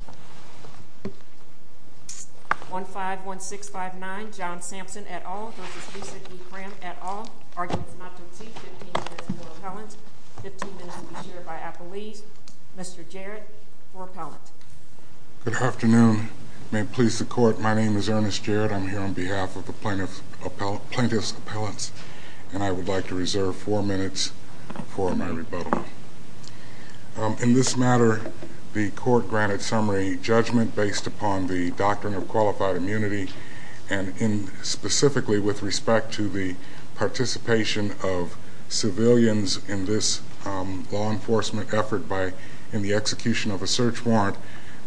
15 minutes to be shared by Appellees. Mr. Jarrett, for Appellant. Good afternoon. May it please the Court, my name is Ernest Jarrett. I'm here on behalf of the Plaintiff's Appellants, and I would like to reserve four minutes for my rebuttal. In this matter, the Court granted summary judgment based upon the doctrine of qualified immunity, and specifically with respect to the participation of civilians in this law enforcement effort in the execution of a search warrant,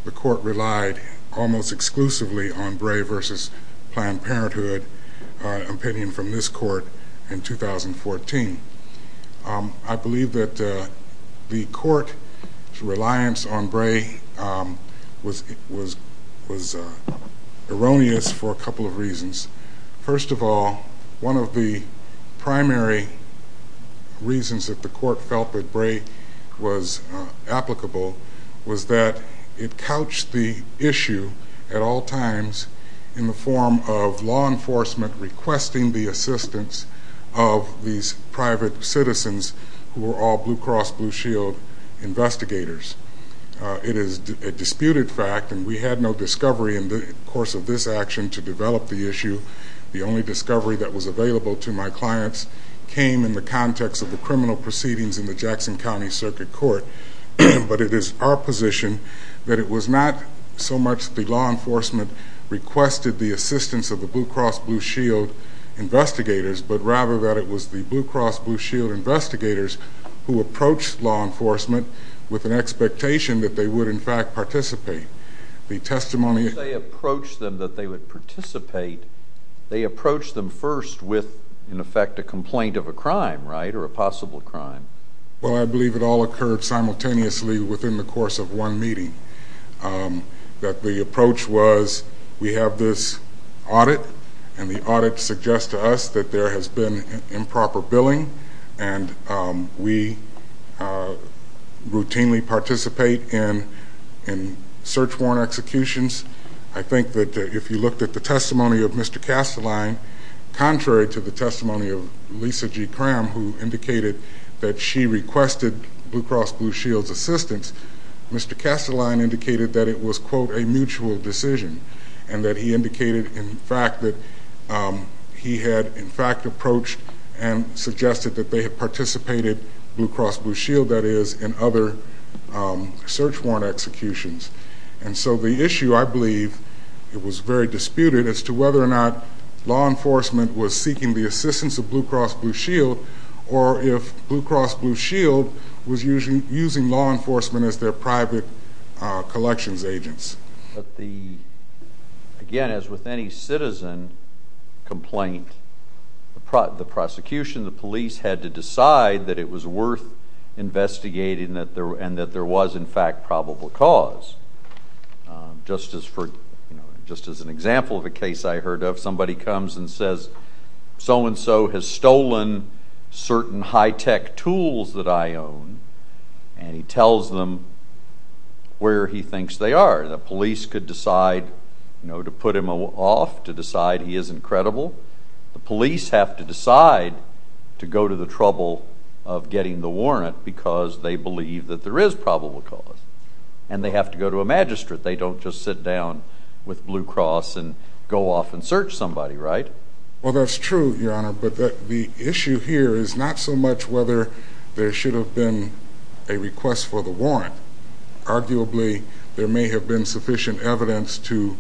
the Court relied almost exclusively on Bray v. Planned Parenthood, an opinion from this Court in 2014. I believe that the Court's reliance on Bray was erroneous for a couple of reasons. First of all, one of the primary reasons that the Court felt that Bray was applicable was that it couched the issue at all times in the form of law enforcement requesting the assistance of these private citizens who were all Blue Cross Blue Shield investigators. It is a disputed fact, and we had no discovery in the course of this action to develop the issue. The only discovery that was available to my clients came in the context of the criminal proceedings in the requested the assistance of the Blue Cross Blue Shield investigators, but rather that it was the Blue Cross Blue Shield investigators who approached law enforcement with an expectation that they would, in fact, participate. The testimony... They approached them that they would participate. They approached them first with, in effect, a complaint of a crime, right, or a possible crime. Well, I believe it all occurred simultaneously within the course of one meeting, that the approach was we have this audit, and the audit suggests to us that there has been improper billing, and we routinely participate in search warrant executions. I think that if you looked at the testimony of Mr. Kastelein, contrary to the testimony of Lisa G. Cram, who indicated that she requested Blue Cross Blue Shield's assistance, Mr. Kastelein indicated that it was, quote, a mutual decision, and that he indicated in fact that he had, in fact, approached and suggested that they had participated, Blue Cross Blue Shield that is, in other search warrant executions. And so the issue, I believe, it was very disputed as to whether or not law enforcement was seeking the assistance of Blue Cross Blue Shield, or if Blue Cross Blue Shield was using law enforcement as their private collections agents. Again, as with any citizen complaint, the prosecution, the police, had to decide that it was worth investigating and that there was, in fact, probable cause. Just as an example of a case I heard of, somebody comes and says, so-and-so has stolen certain high-tech tools that I own, and he tells them where he thinks they are. The police could decide to put him off, to decide he isn't credible. The police have to decide to go to the trouble of getting the warrant because they believe that there is probable cause, and they have to go to a magistrate. They don't just sit down with Blue Cross and go off and search somebody, right? Well, that's true, Your Honor, but the issue here is not so much whether there should have been a request for the warrant. Arguably, there may have been sufficient evidence to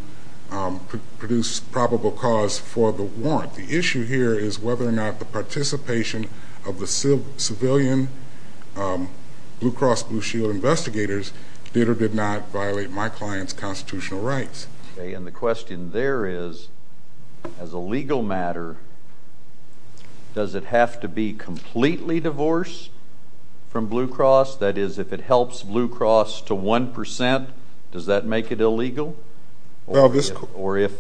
produce probable cause for the warrant. The issue here is whether or not the participation of the civilian Blue Cross Blue Shield investigators did or did not violate my client's constitutional rights. Okay, and the question there is, as a legal matter, does it have to be completely divorced from Blue Cross? That is, if it helps Blue Cross to one percent, does that make it illegal? Or if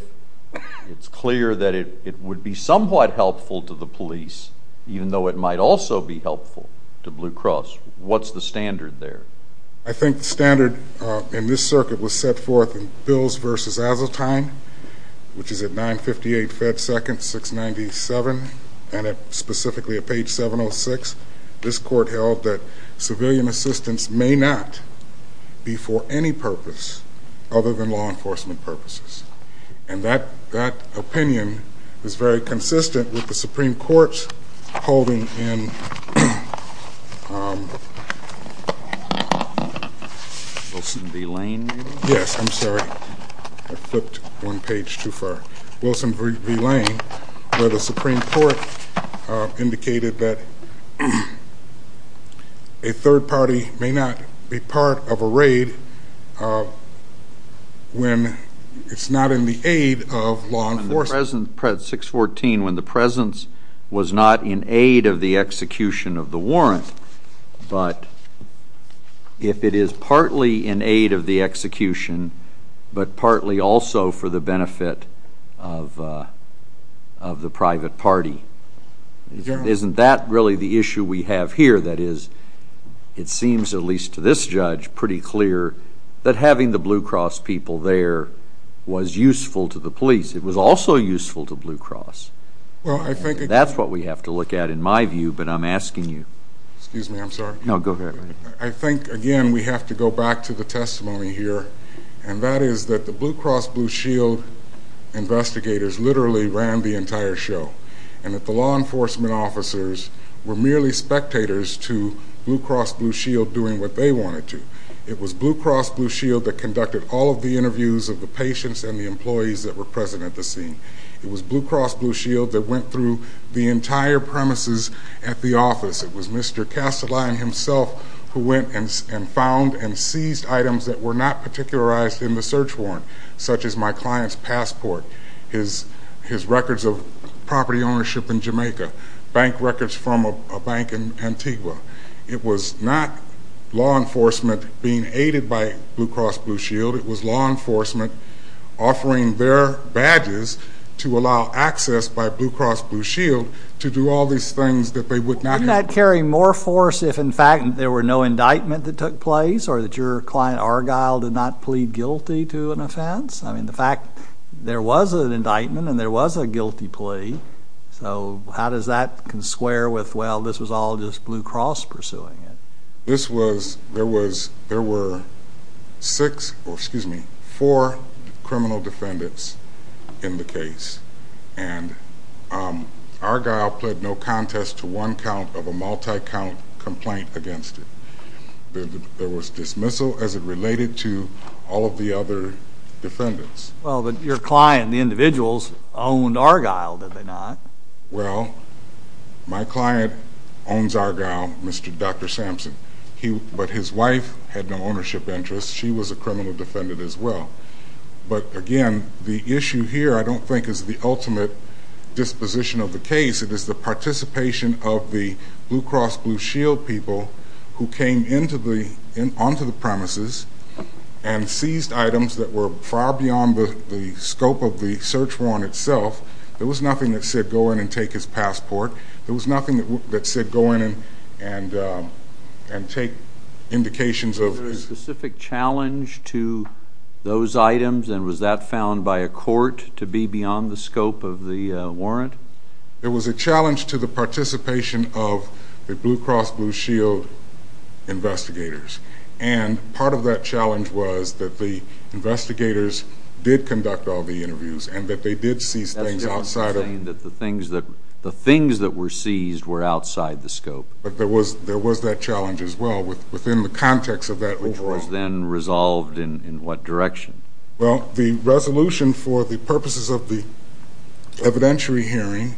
it's clear that it would be somewhat helpful to the police, even though it might also be helpful to Blue Cross, what's the standard there? I think the standard in this circuit was set forth in Bills v. Azotine, which is at 958 Fed Second, 697, and specifically at page 706. This court held that civilian assistance may not be for any purpose other than law enforcement purposes. And that opinion is very consistent with the Supreme Court's holding in Wilson v. Lane, where the Supreme Court indicated that a third party may not be part of a raid when it's not in the aid of law enforcement. In 614, when the presence was not in aid of the execution of the warrant, but if it is Isn't that really the issue we have here? That is, it seems, at least to this judge, pretty clear that having the Blue Cross people there was useful to the police. It was also useful to Blue Cross. That's what we have to look at, in my view, but I'm asking you. Excuse me, I'm sorry. No, go ahead. I think, again, we have to go back to the testimony here, and that is that the Blue Cross law enforcement officers were merely spectators to Blue Cross Blue Shield doing what they wanted to. It was Blue Cross Blue Shield that conducted all of the interviews of the patients and the employees that were present at the scene. It was Blue Cross Blue Shield that went through the entire premises at the office. It was Mr. Castellan himself who went and found and seized items that were not particularized in the search warrant, such as my client's passport, his records of property ownership in Jamaica, bank records from a bank in Antigua. It was not law enforcement being aided by Blue Cross Blue Shield. It was law enforcement offering their badges to allow access by Blue Cross Blue Shield to do all these things that they would not have done. Wouldn't that carry more force if, in fact, there were no indictments that took place or that your client, Argyle, did not plead guilty to an offense? I mean, the fact there was an indictment and there was a guilty plea, so how does that consquare with, well, this was all just Blue Cross pursuing it? This was, there were six, or excuse me, four criminal defendants in the case, and Argyle pled no contest to one count of a multi-count complaint against it. There was dismissal as it related to all of the other defendants. Well, but your client, the individuals, owned Argyle, did they not? Well, my client owns Argyle, Dr. Sampson, but his wife had no ownership interests. She was a criminal defendant as well. But again, the issue here I don't think is the participation of the Blue Cross Blue Shield people who came onto the premises and seized items that were far beyond the scope of the search warrant itself. There was nothing that said go in and take his passport. There was nothing that said go in and take indications of... Was there a specific challenge to those items, and was that found by a court to be beyond the scope of the warrant? There was a challenge to the participation of the Blue Cross Blue Shield investigators. And part of that challenge was that the investigators did conduct all the interviews, and that they did seize things outside of... That was saying that the things that were seized were outside the scope. But there was that challenge as well within the context of that overall... Which was then resolved in what direction? Well, the resolution for the purposes of the evidentiary hearing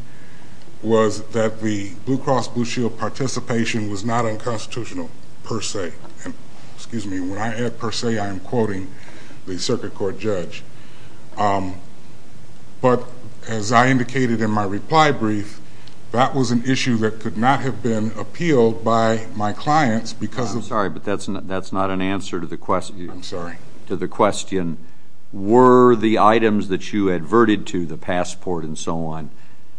was that the Blue Cross Blue Shield participation was not unconstitutional per se. And, excuse me, when I add per se, I am quoting the circuit court judge. But as I indicated in my reply brief, that was an issue that could not have been appealed by my clients because of... I'm sorry, but that's not an answer to the question... I'm sorry. ...to the question, were the items that you adverted to, the passport and so on,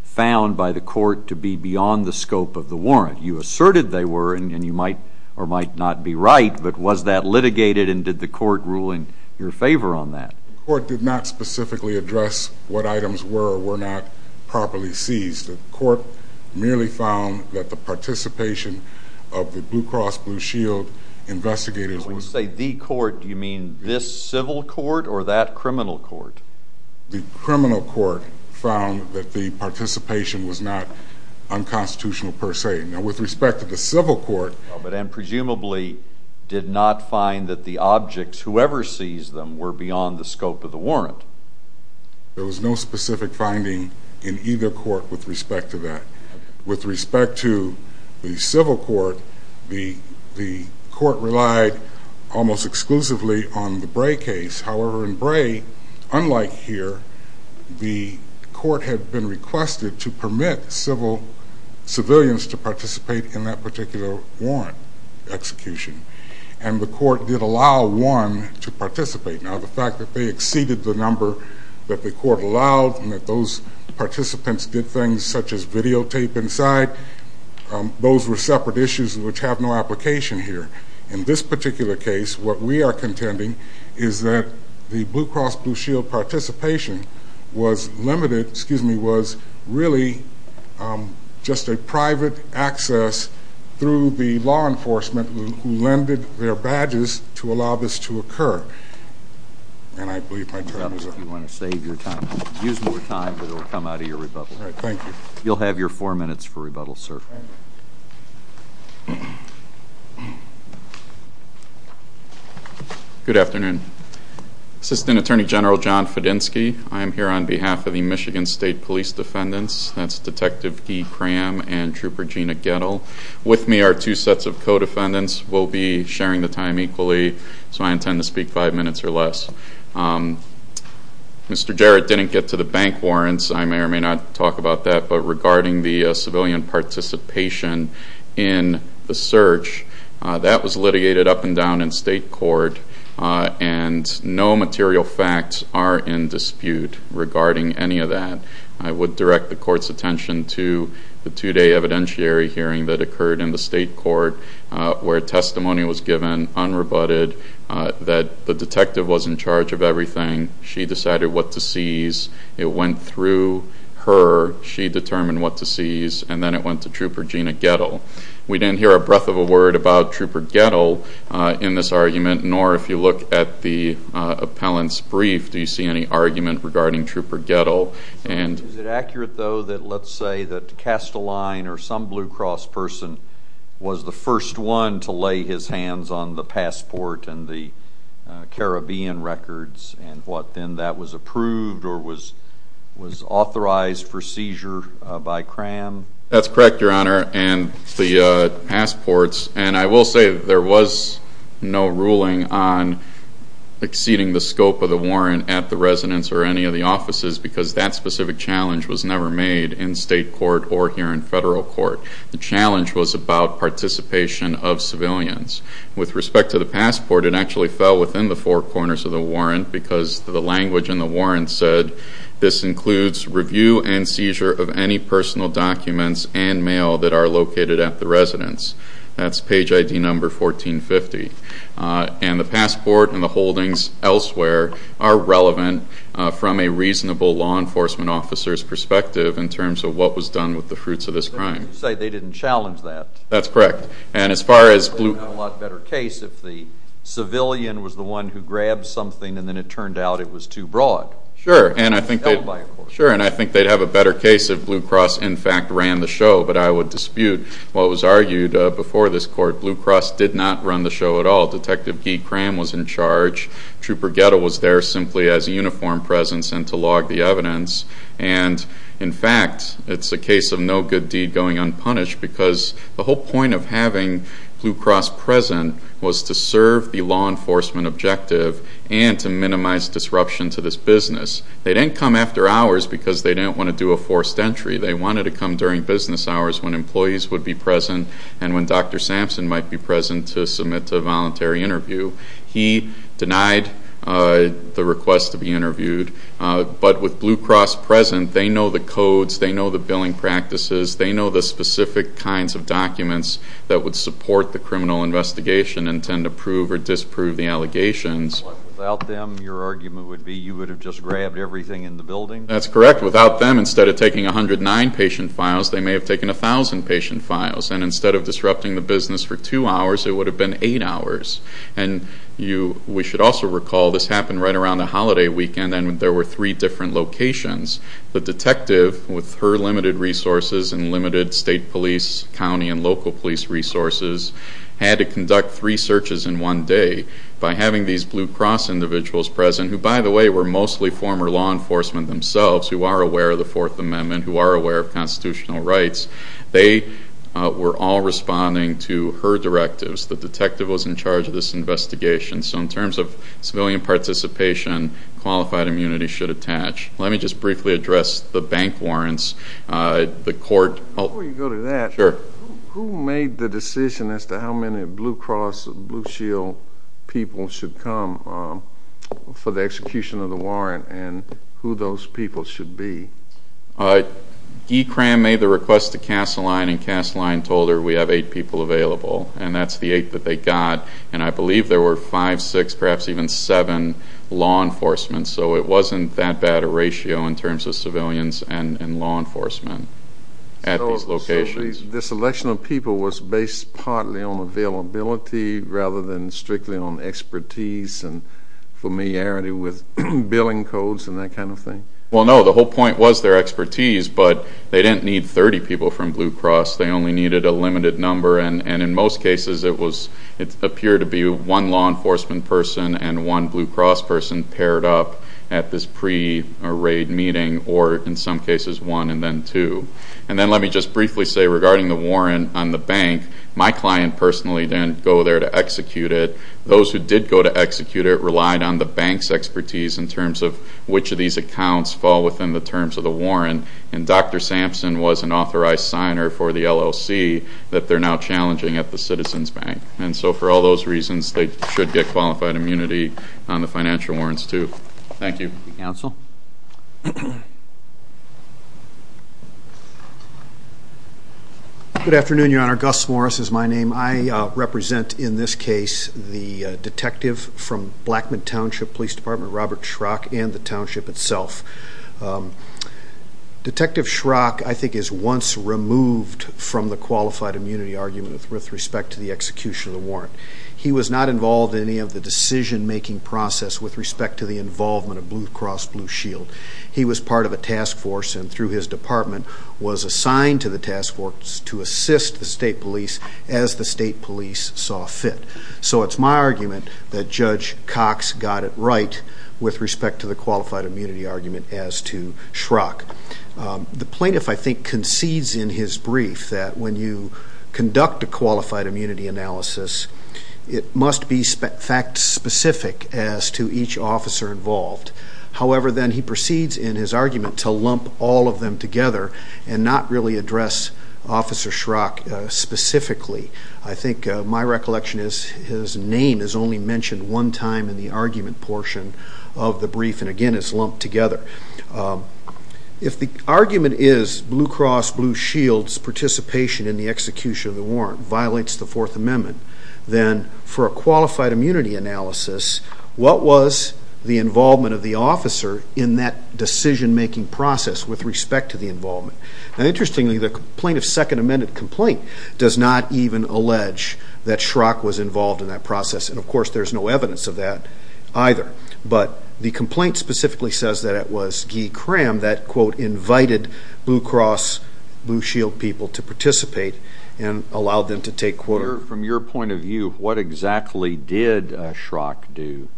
found by the court to be beyond the scope of the warrant? You asserted they were, and you might or might not be right, but was that litigated, and did the court rule in your favor on that? The court did not specifically address what items were or were not properly seized. The court merely found that the participation of the Blue Cross Blue Shield investigators... When you say the court, do you mean this civil court or that criminal court? The criminal court found that the participation was not unconstitutional per se. Now, with respect to the civil court... And presumably did not find that the objects, whoever seized them, were beyond the scope of the warrant. There was no specific finding in either court with respect to that. With respect to the almost exclusively on the Bray case. However, in Bray, unlike here, the court had been requested to permit civil, civilians to participate in that particular warrant execution. And the court did allow one to participate. Now, the fact that they exceeded the number that the court allowed, and that those participants did things such as videotape inside, those were separate issues which have no application here. In this particular case, what we are contending is that the Blue Cross Blue Shield participation was limited, excuse me, was really just a private access through the law enforcement who lended their badges to allow this to occur. And I believe my time is up. If you want to save your time, use more time, but it will come out of your rebuttal. Thank you. You'll have your four minutes for rebuttal, sir. Thank you. Good afternoon. Assistant Attorney General John Fadinski, I am here on behalf of the Michigan State Police Defendants, that's Detective Guy Cram and Trooper Gina Gettle. With me are two sets of co-defendants. We'll be sharing the time equally, so I intend to speak five minutes or less. Mr. Jarrett didn't get to the bank warrants. I may or may not talk about that, but regarding the civilian participation in the search, that was litigated up and down in state court and no material facts are in dispute regarding any of that. I would direct the court's attention to the two-day evidentiary hearing that occurred in the state court where testimony was given unrebutted that the detective was in charge of everything. She decided what to seize. It went through her. She determined what to seize, and then it went to Trooper Gina Gettle. We didn't hear a breath of a word about Trooper Gettle in this argument, nor if you look at the appellant's brief, do you see any argument regarding Trooper Gettle? Is it accurate, though, that let's say that Casteline or some Blue Cross person was the first one to lay his hands on the passport and the Caribbean records, and what then that was approved or was authorized for seizure by CRAM? That's correct, Your Honor, and the passports, and I will say that there was no ruling on exceeding the scope of the warrant at the residence or any of the offices because that specific challenge was never made in state court or here in federal court. The challenge was about participation of civilians. With respect to the passport, it actually fell within the four corners of the warrant because the language in the warrant said this includes review and seizure of any personal documents and mail that are located at the residence. That's page ID number 1450. And the passport and the holdings elsewhere are relevant from a reasonable law enforcement officer's perspective in terms of what was done with the fruits of this crime. So you're saying they didn't challenge that? That's correct. They would have a lot better case if the civilian was the one who grabbed something and then it turned out it was too broad. Sure, and I think they'd have a better case if Blue Cross in fact ran the show, but I would dispute what was argued before this court. Blue Cross did not run the show at all. Detective Guy Cram was in charge. Trooper Guetta was there simply as a uniformed presence and to log the evidence, and in fact, it's a case of no good deed going unpunished because the whole point of having Blue Cross present was to serve the law enforcement objective and to minimize disruption to this business. They didn't come after hours because they didn't want to do a forced entry. They wanted to come during business hours when employees would be present and when Dr. Sampson might be present to submit a voluntary interview. He denied the request to be interviewed, but with Blue Cross present, they know the codes, they know the billing practices, they know the specific kinds of documents that would support the criminal investigation and tend to prove or disprove the allegations. Without them, your argument would be you would have just grabbed everything in the building? That's correct. Without them, instead of taking 109 patient files, they may have taken 1,000 patient files, and instead of disrupting the business for two hours, it would have been eight hours. And we should also recall this happened right around the holiday weekend and there were three different locations. The detective, with her limited resources and limited state police, county, and local police resources, had to conduct three searches in one day. By having these Blue Cross individuals present, who, by the way, were mostly former law enforcement themselves, who are aware of the Fourth Amendment, who are aware of constitutional rights, they were all responding to her directives. The detective was in charge of this investigation. So in terms of civilian participation, qualified immunity should attach. Let me just briefly address the bank warrants. Before you go to that, who made the decision as to how many Blue Cross, Blue Shield people should come for the execution of the warrant and who those people should be? Guy Cram made the request to Kasseline, and Kasseline told her we have eight people available, and that's the eight that they got. And I believe there were five, six, perhaps even seven law enforcement. So it wasn't that bad a ratio in terms of civilians and law enforcement at these locations. So the selection of people was based partly on availability rather than strictly on expertise and familiarity with billing codes and that kind of thing? Well, no, the whole point was their expertise, but they didn't need 30 people from Blue Cross. They only needed a limited number, and in most cases it appeared to be one law enforcement person and one Blue Cross person paired up at this pre-raid meeting, or in some cases one and then two. And then let me just briefly say regarding the warrant on the bank, my client personally didn't go there to execute it. Those who did go to execute it relied on the bank's expertise in terms of which of these accounts fall within the terms of the warrant, and Dr. Sampson was an authorized signer for the LLC that they're now challenging at the Citizens Bank. And so for all those reasons, they should get qualified immunity on the financial warrants too. Thank you. Counsel? Good afternoon, Your Honor. Gus Morris is my name. I represent in this case the detective from Blackmon Township Police Department, Robert Schrock, and the township itself. Detective Schrock, I think, is once removed from the qualified immunity argument with respect to the execution of the warrant. He was not involved in any of the decision-making process with respect to the involvement of Blue Cross Blue Shield. He was part of a task force and through his department was assigned to the task force to assist the state police as the state police saw fit. So it's my argument that Judge Cox got it right with respect to the qualified immunity argument as to Schrock. The plaintiff, I think, concedes in his brief that when you conduct a qualified immunity analysis, it must be fact-specific as to each officer involved. However, then he proceeds in his argument to lump all of them together and not really address Officer Schrock specifically. I think my recollection is his name is only mentioned one time in the argument portion of the brief, and, again, it's lumped together. If the argument is Blue Cross Blue Shield's participation in the execution of the warrant violates the Fourth Amendment, then for a qualified immunity analysis, what was the involvement of the officer in that decision-making process with respect to the involvement? Interestingly, the plaintiff's Second Amendment complaint does not even allege that Schrock was involved in that process, and, of course, there's no evidence of that either. But the complaint specifically says that it was Guy Cram that, quote, invited Blue Cross Blue Shield people to participate and allowed them to take quarters. From your point of view, what exactly did Schrock do?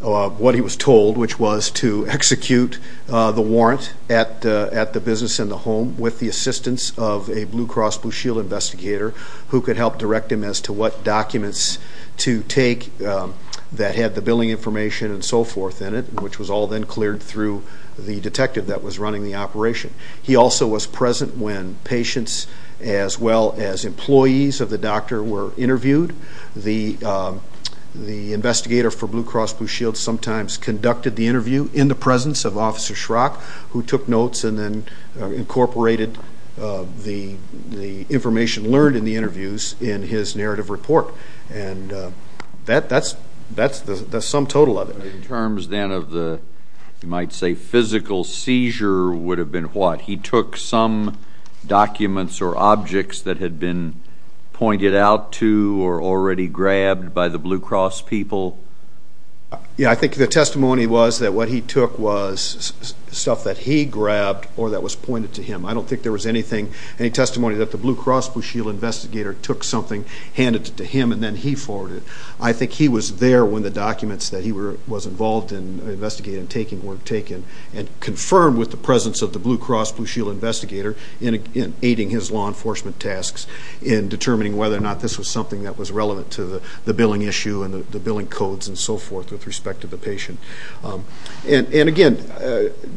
What he was told, which was to execute the warrant at the business and the home with the assistance of a Blue Cross Blue Shield investigator who could help direct him as to what documents to take that had the billing information and so forth in it, which was all then cleared through the detective that was running the operation. He also was present when patients as well as employees of the doctor were interviewed. The investigator for Blue Cross Blue Shield sometimes conducted the interview in the presence of Officer Schrock, who took notes and then incorporated the information learned in the interviews in his narrative report. And that's the sum total of it. In terms then of the, you might say, physical seizure would have been what? He took some documents or objects that had been pointed out to or already grabbed by the Blue Cross people? Yeah, I think the testimony was that what he took was stuff that he grabbed or that was pointed to him. I don't think there was anything, any testimony that the Blue Cross Blue Shield investigator took something, handed it to him, and then he forwarded it. I think he was there when the documents that he was involved in investigating and taking were taken and confirmed with the presence of the Blue Cross Blue Shield investigator in aiding his law enforcement tasks in determining whether or not this was something that was relevant to the billing issue and the billing codes and so forth with respect to the patient. And again,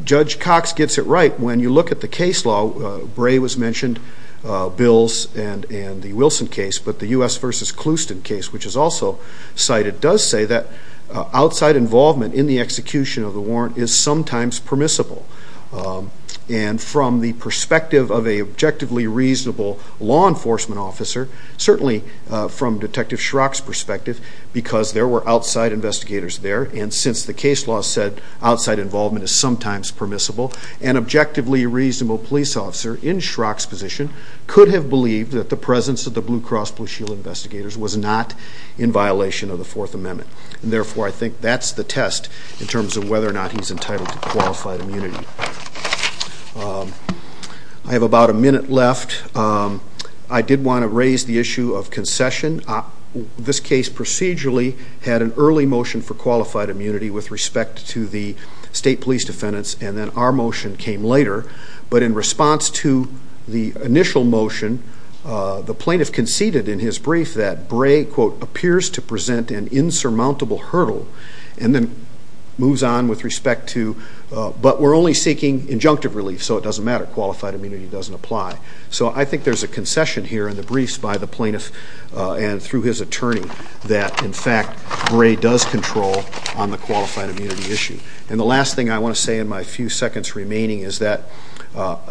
Judge Cox gets it right. When you look at the case law, Bray was mentioned, Bills and the Wilson case, but the U.S. versus Clouston case, which is also cited, does say that outside involvement in the execution of the warrant is sometimes permissible. And from the perspective of an objectively reasonable law enforcement officer, certainly from Detective Schrock's perspective, because there were outside investigators there, and since the case law said outside involvement is sometimes permissible, an objectively reasonable police officer in Schrock's position could have believed that the presence of the Blue Cross Blue Shield investigators was not in violation of the Fourth Amendment. And therefore, I think that's the test in terms of whether or not he's entitled to qualified immunity. I have about a minute left. I did want to raise the issue of concession. This case procedurally had an early motion for qualified immunity with respect to the state police defendants, and then our motion came later, but in response to the initial motion, the plaintiff conceded in his brief that Bray, quote, appears to present an insurmountable hurdle, and then moves on with respect to, but we're only seeking injunctive relief, so it doesn't matter, qualified immunity doesn't apply. So I think there's a concession here in the briefs by the plaintiff and through his attorney that, in fact, Bray does control on the qualified immunity issue. And the last thing I want to say in my few seconds remaining is that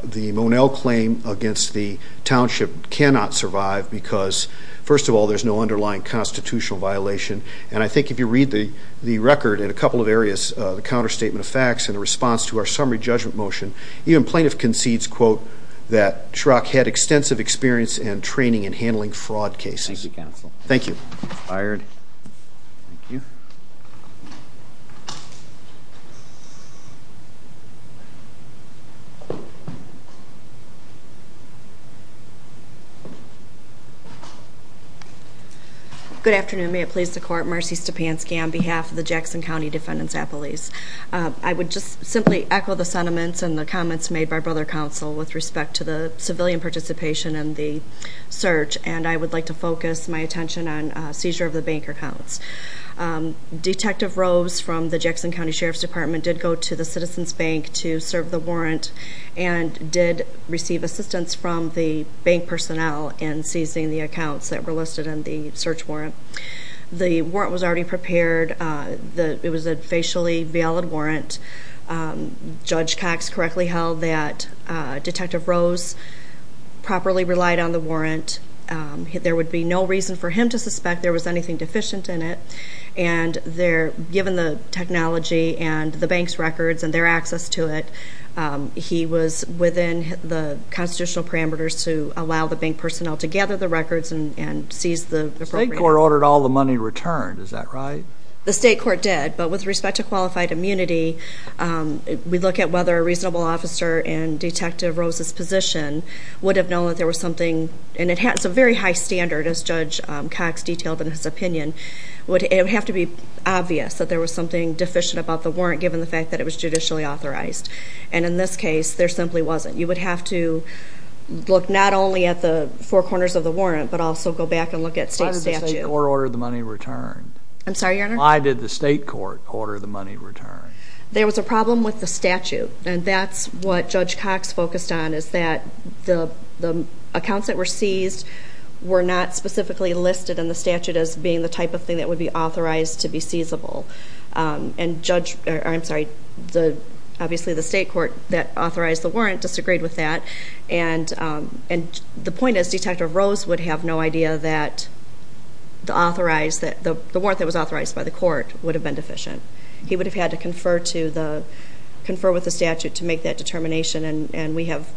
the Monell claim against the township cannot survive because, first of all, there's no underlying constitutional violation, and I think if you read the record in a couple of areas, the counterstatement of facts and the response to our summary judgment motion, even plaintiff concedes, quote, that Schrock had extensive experience and training in handling fraud cases. Thank you, counsel. Thank you. It's fired. Thank you. Good afternoon. May it please the Court. Marcy Stepanski on behalf of the Jackson County Defendant's Appellees. I would just simply echo the sentiments and the comments made by Brother Counsel with respect to the civilian participation in the search, and I would like to focus my attention on seizure of the bank accounts. Detective Rose from the Jackson County Sheriff's Department did go to the Citizens Bank to serve the warrant and did receive assistance from the bank personnel in seizing the accounts that were listed in the search warrant. The warrant was already prepared. It was a facially valid warrant. Judge Cox correctly held that Detective Rose properly relied on the warrant. There would be no reason for him to suspect there was anything deficient in it, and given the technology and the bank's records and their access to it, he was within the constitutional parameters to allow the bank personnel to gather the records and seize the appropriate ones. The state court ordered all the money returned, is that right? The state court did, but with respect to qualified immunity, we look at whether a reasonable officer in Detective Rose's position would have known that there was something, and it's a very high standard as Judge Cox detailed in his opinion, it would have to be obvious that there was something deficient about the warrant given the fact that it was judicially authorized. And in this case, there simply wasn't. You would have to look not only at the four corners of the warrant, but also go back and look at state statute. Why did the court order the money returned? I'm sorry, Your Honor? Why did the state court order the money returned? There was a problem with the statute, and that's what Judge Cox focused on, is that the accounts that were seized were not specifically listed in the statute as being the type of thing that would be authorized to be seizable. And Judge, I'm sorry, obviously the state court that authorized the warrant disagreed with that, and the point is Detective Rose would have no idea that the warrant that was authorized by the court would have been deficient. He would have had to confer with the statute to make that determination, and we have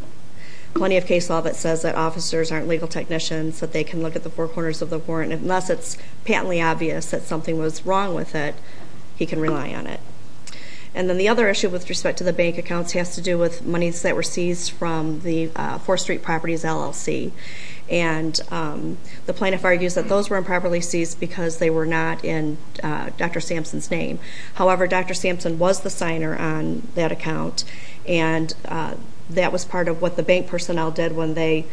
plenty of case law that says that officers aren't legal technicians, that they can look at the four corners of the warrant. Unless it's patently obvious that something was wrong with it, he can rely on it. And then the other issue with respect to the bank accounts has to do with monies that were seized from the Fourth Street Properties LLC, and the plaintiff argues that those were improperly seized because they were not in Dr. Sampson's name. However, Dr. Sampson was the signer on that account, and that was part of what the bank personnel did when they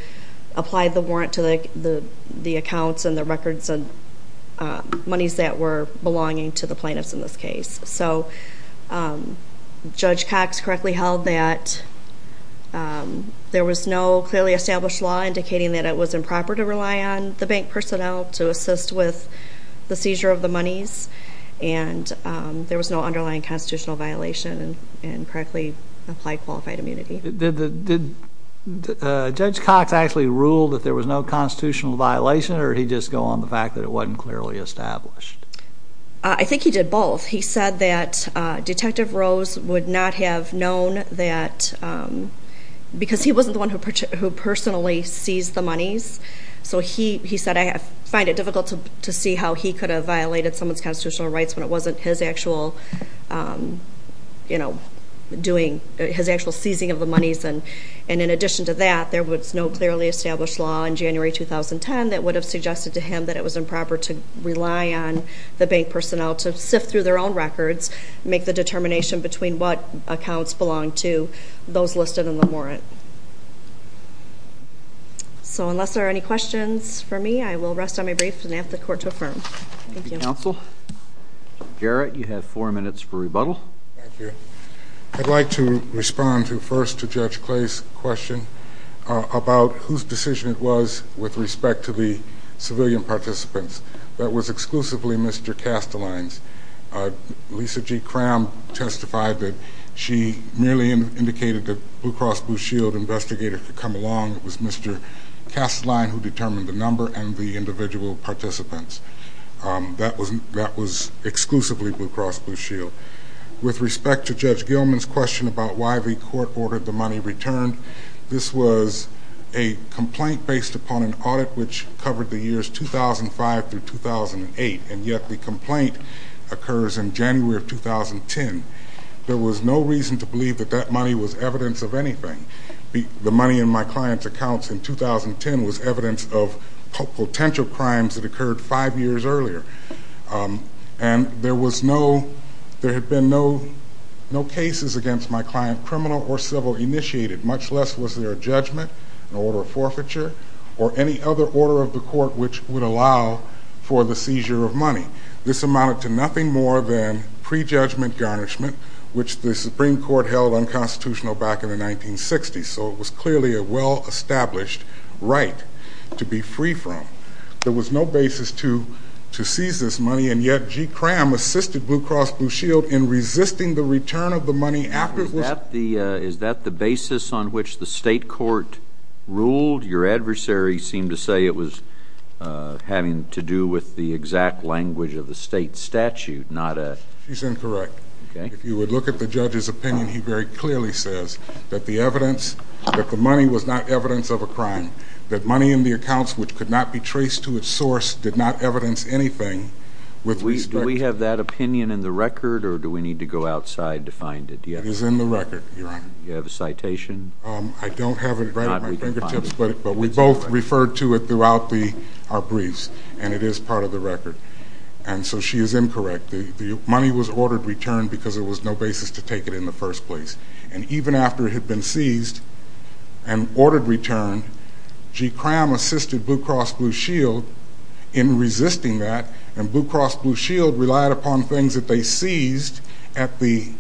applied the warrant to the accounts and the records and monies that were belonging to the plaintiffs in this case. So Judge Cox correctly held that there was no clearly established law indicating that it was improper to rely on the bank personnel to assist with the seizure of the monies, and there was no underlying constitutional violation and correctly applied qualified immunity. Did Judge Cox actually rule that there was no constitutional violation, or did he just go on the fact that it wasn't clearly established? I think he did both. He said that Detective Rose would not have known that because he wasn't the one who personally seized the monies. So he said, I find it difficult to see how he could have violated someone's constitutional rights when it wasn't his actual doing, his actual seizing of the monies. And in addition to that, there was no clearly established law in January 2010 that would have suggested to him that it was improper to rely on the bank personnel to sift through their own records, make the determination between what accounts belonged to those listed in the warrant. So unless there are any questions for me, I will rest on my brief and ask the Court to affirm. Thank you. Counsel? Jarrett, you have four minutes for rebuttal. Thank you. I'd like to respond first to Judge Clay's question about whose decision it was with respect to the civilian participants. That was exclusively Mr. Casteline's. Lisa G. Cram testified that she merely indicated that Blue Cross Blue Shield investigators could come along. It was Mr. Casteline who determined the number and the individual participants. That was exclusively Blue Cross Blue Shield. With respect to Judge Gilman's question about why the Court ordered the money returned, this was a complaint based upon an audit which covered the years 2005 through 2008, and yet the complaint occurs in January of 2010. There was no reason to believe that that money was evidence of anything. The money in my client's accounts in 2010 was evidence of potential crimes that occurred five years earlier. And there had been no cases against my client, criminal or civil, initiated, much less was there a judgment, an order of forfeiture, or any other order of the Court which would allow for the seizure of money. This amounted to nothing more than prejudgment garnishment, which the Supreme Court held unconstitutional back in the 1960s, so it was clearly a well-established right to be free from. There was no basis to seize this money, and yet G. Cramm assisted Blue Cross Blue Shield in resisting the return of the money afterwards. Is that the basis on which the state court ruled? Your adversary seemed to say it was having to do with the exact language of the state statute, not a... She's incorrect. Okay. If you would look at the judge's opinion, he very clearly says that the money was not evidence of a crime, that money in the accounts which could not be traced to its source did not evidence anything with respect... Do we have that opinion in the record, or do we need to go outside to find it? It is in the record, Your Honor. Do you have a citation? I don't have it right at my fingertips, but we both referred to it throughout our briefs, and it is part of the record. And so she is incorrect. The money was ordered returned because there was no basis to take it in the first place. And even after it had been seized and ordered returned, G. Cramm assisted Blue Cross Blue Shield in resisting that, and Blue Cross Blue Shield relied upon things that they seized at the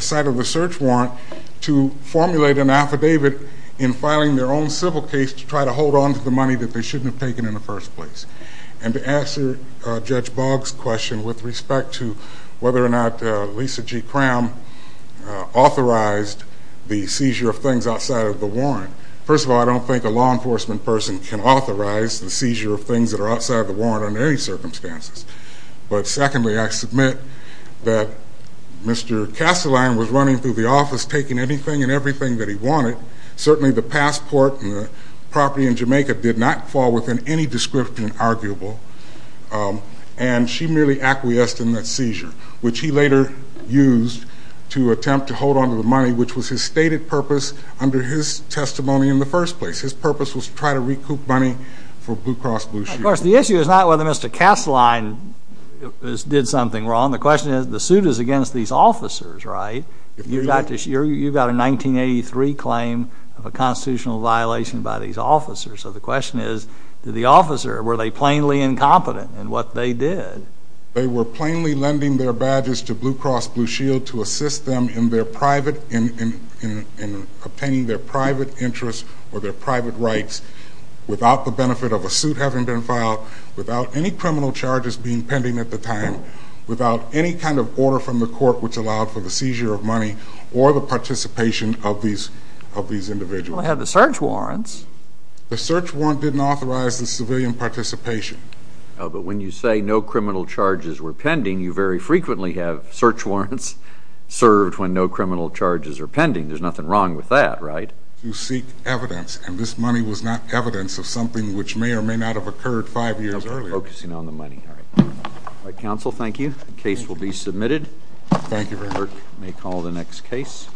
site of the search warrant to formulate an affidavit in filing their own civil case to try to hold on to the money that they shouldn't have taken in the first place. And to answer Judge Boggs' question with respect to whether or not Lisa G. Cramm authorized the seizure of things outside of the warrant, first of all, I don't think a law enforcement person can authorize the seizure of things that are outside of the warrant under any circumstances. But secondly, I submit that Mr. Kastelein was running through the office taking anything and everything that he wanted. Certainly the passport and the property in Jamaica did not fall within any description arguable, and she merely acquiesced in that seizure, which he later used to attempt to hold on to the money, which was his stated purpose under his testimony in the first place. His purpose was to try to recoup money for Blue Cross Blue Shield. Of course, the issue is not whether Mr. Kastelein did something wrong. The question is, the suit is against these officers, right? You've got a 1983 claim of a constitutional violation by these officers. So the question is, to the officer, were they plainly incompetent in what they did? They were plainly lending their badges to Blue Cross Blue Shield to assist them in obtaining their private interests or their private rights without the benefit of a suit having been filed, without any criminal charges being pending at the time, without any kind of order from the court which allowed for the seizure of money or the participation of these individuals. Well, they had the search warrants. The search warrant didn't authorize the civilian participation. But when you say no criminal charges were pending, you very frequently have search warrants served when no criminal charges are pending. There's nothing wrong with that, right? To seek evidence, and this money was not evidence of something which may or may not have occurred five years earlier. Focusing on the money. All right. All right, counsel, thank you. The case will be submitted. Thank you very much. Clerk may call the next case.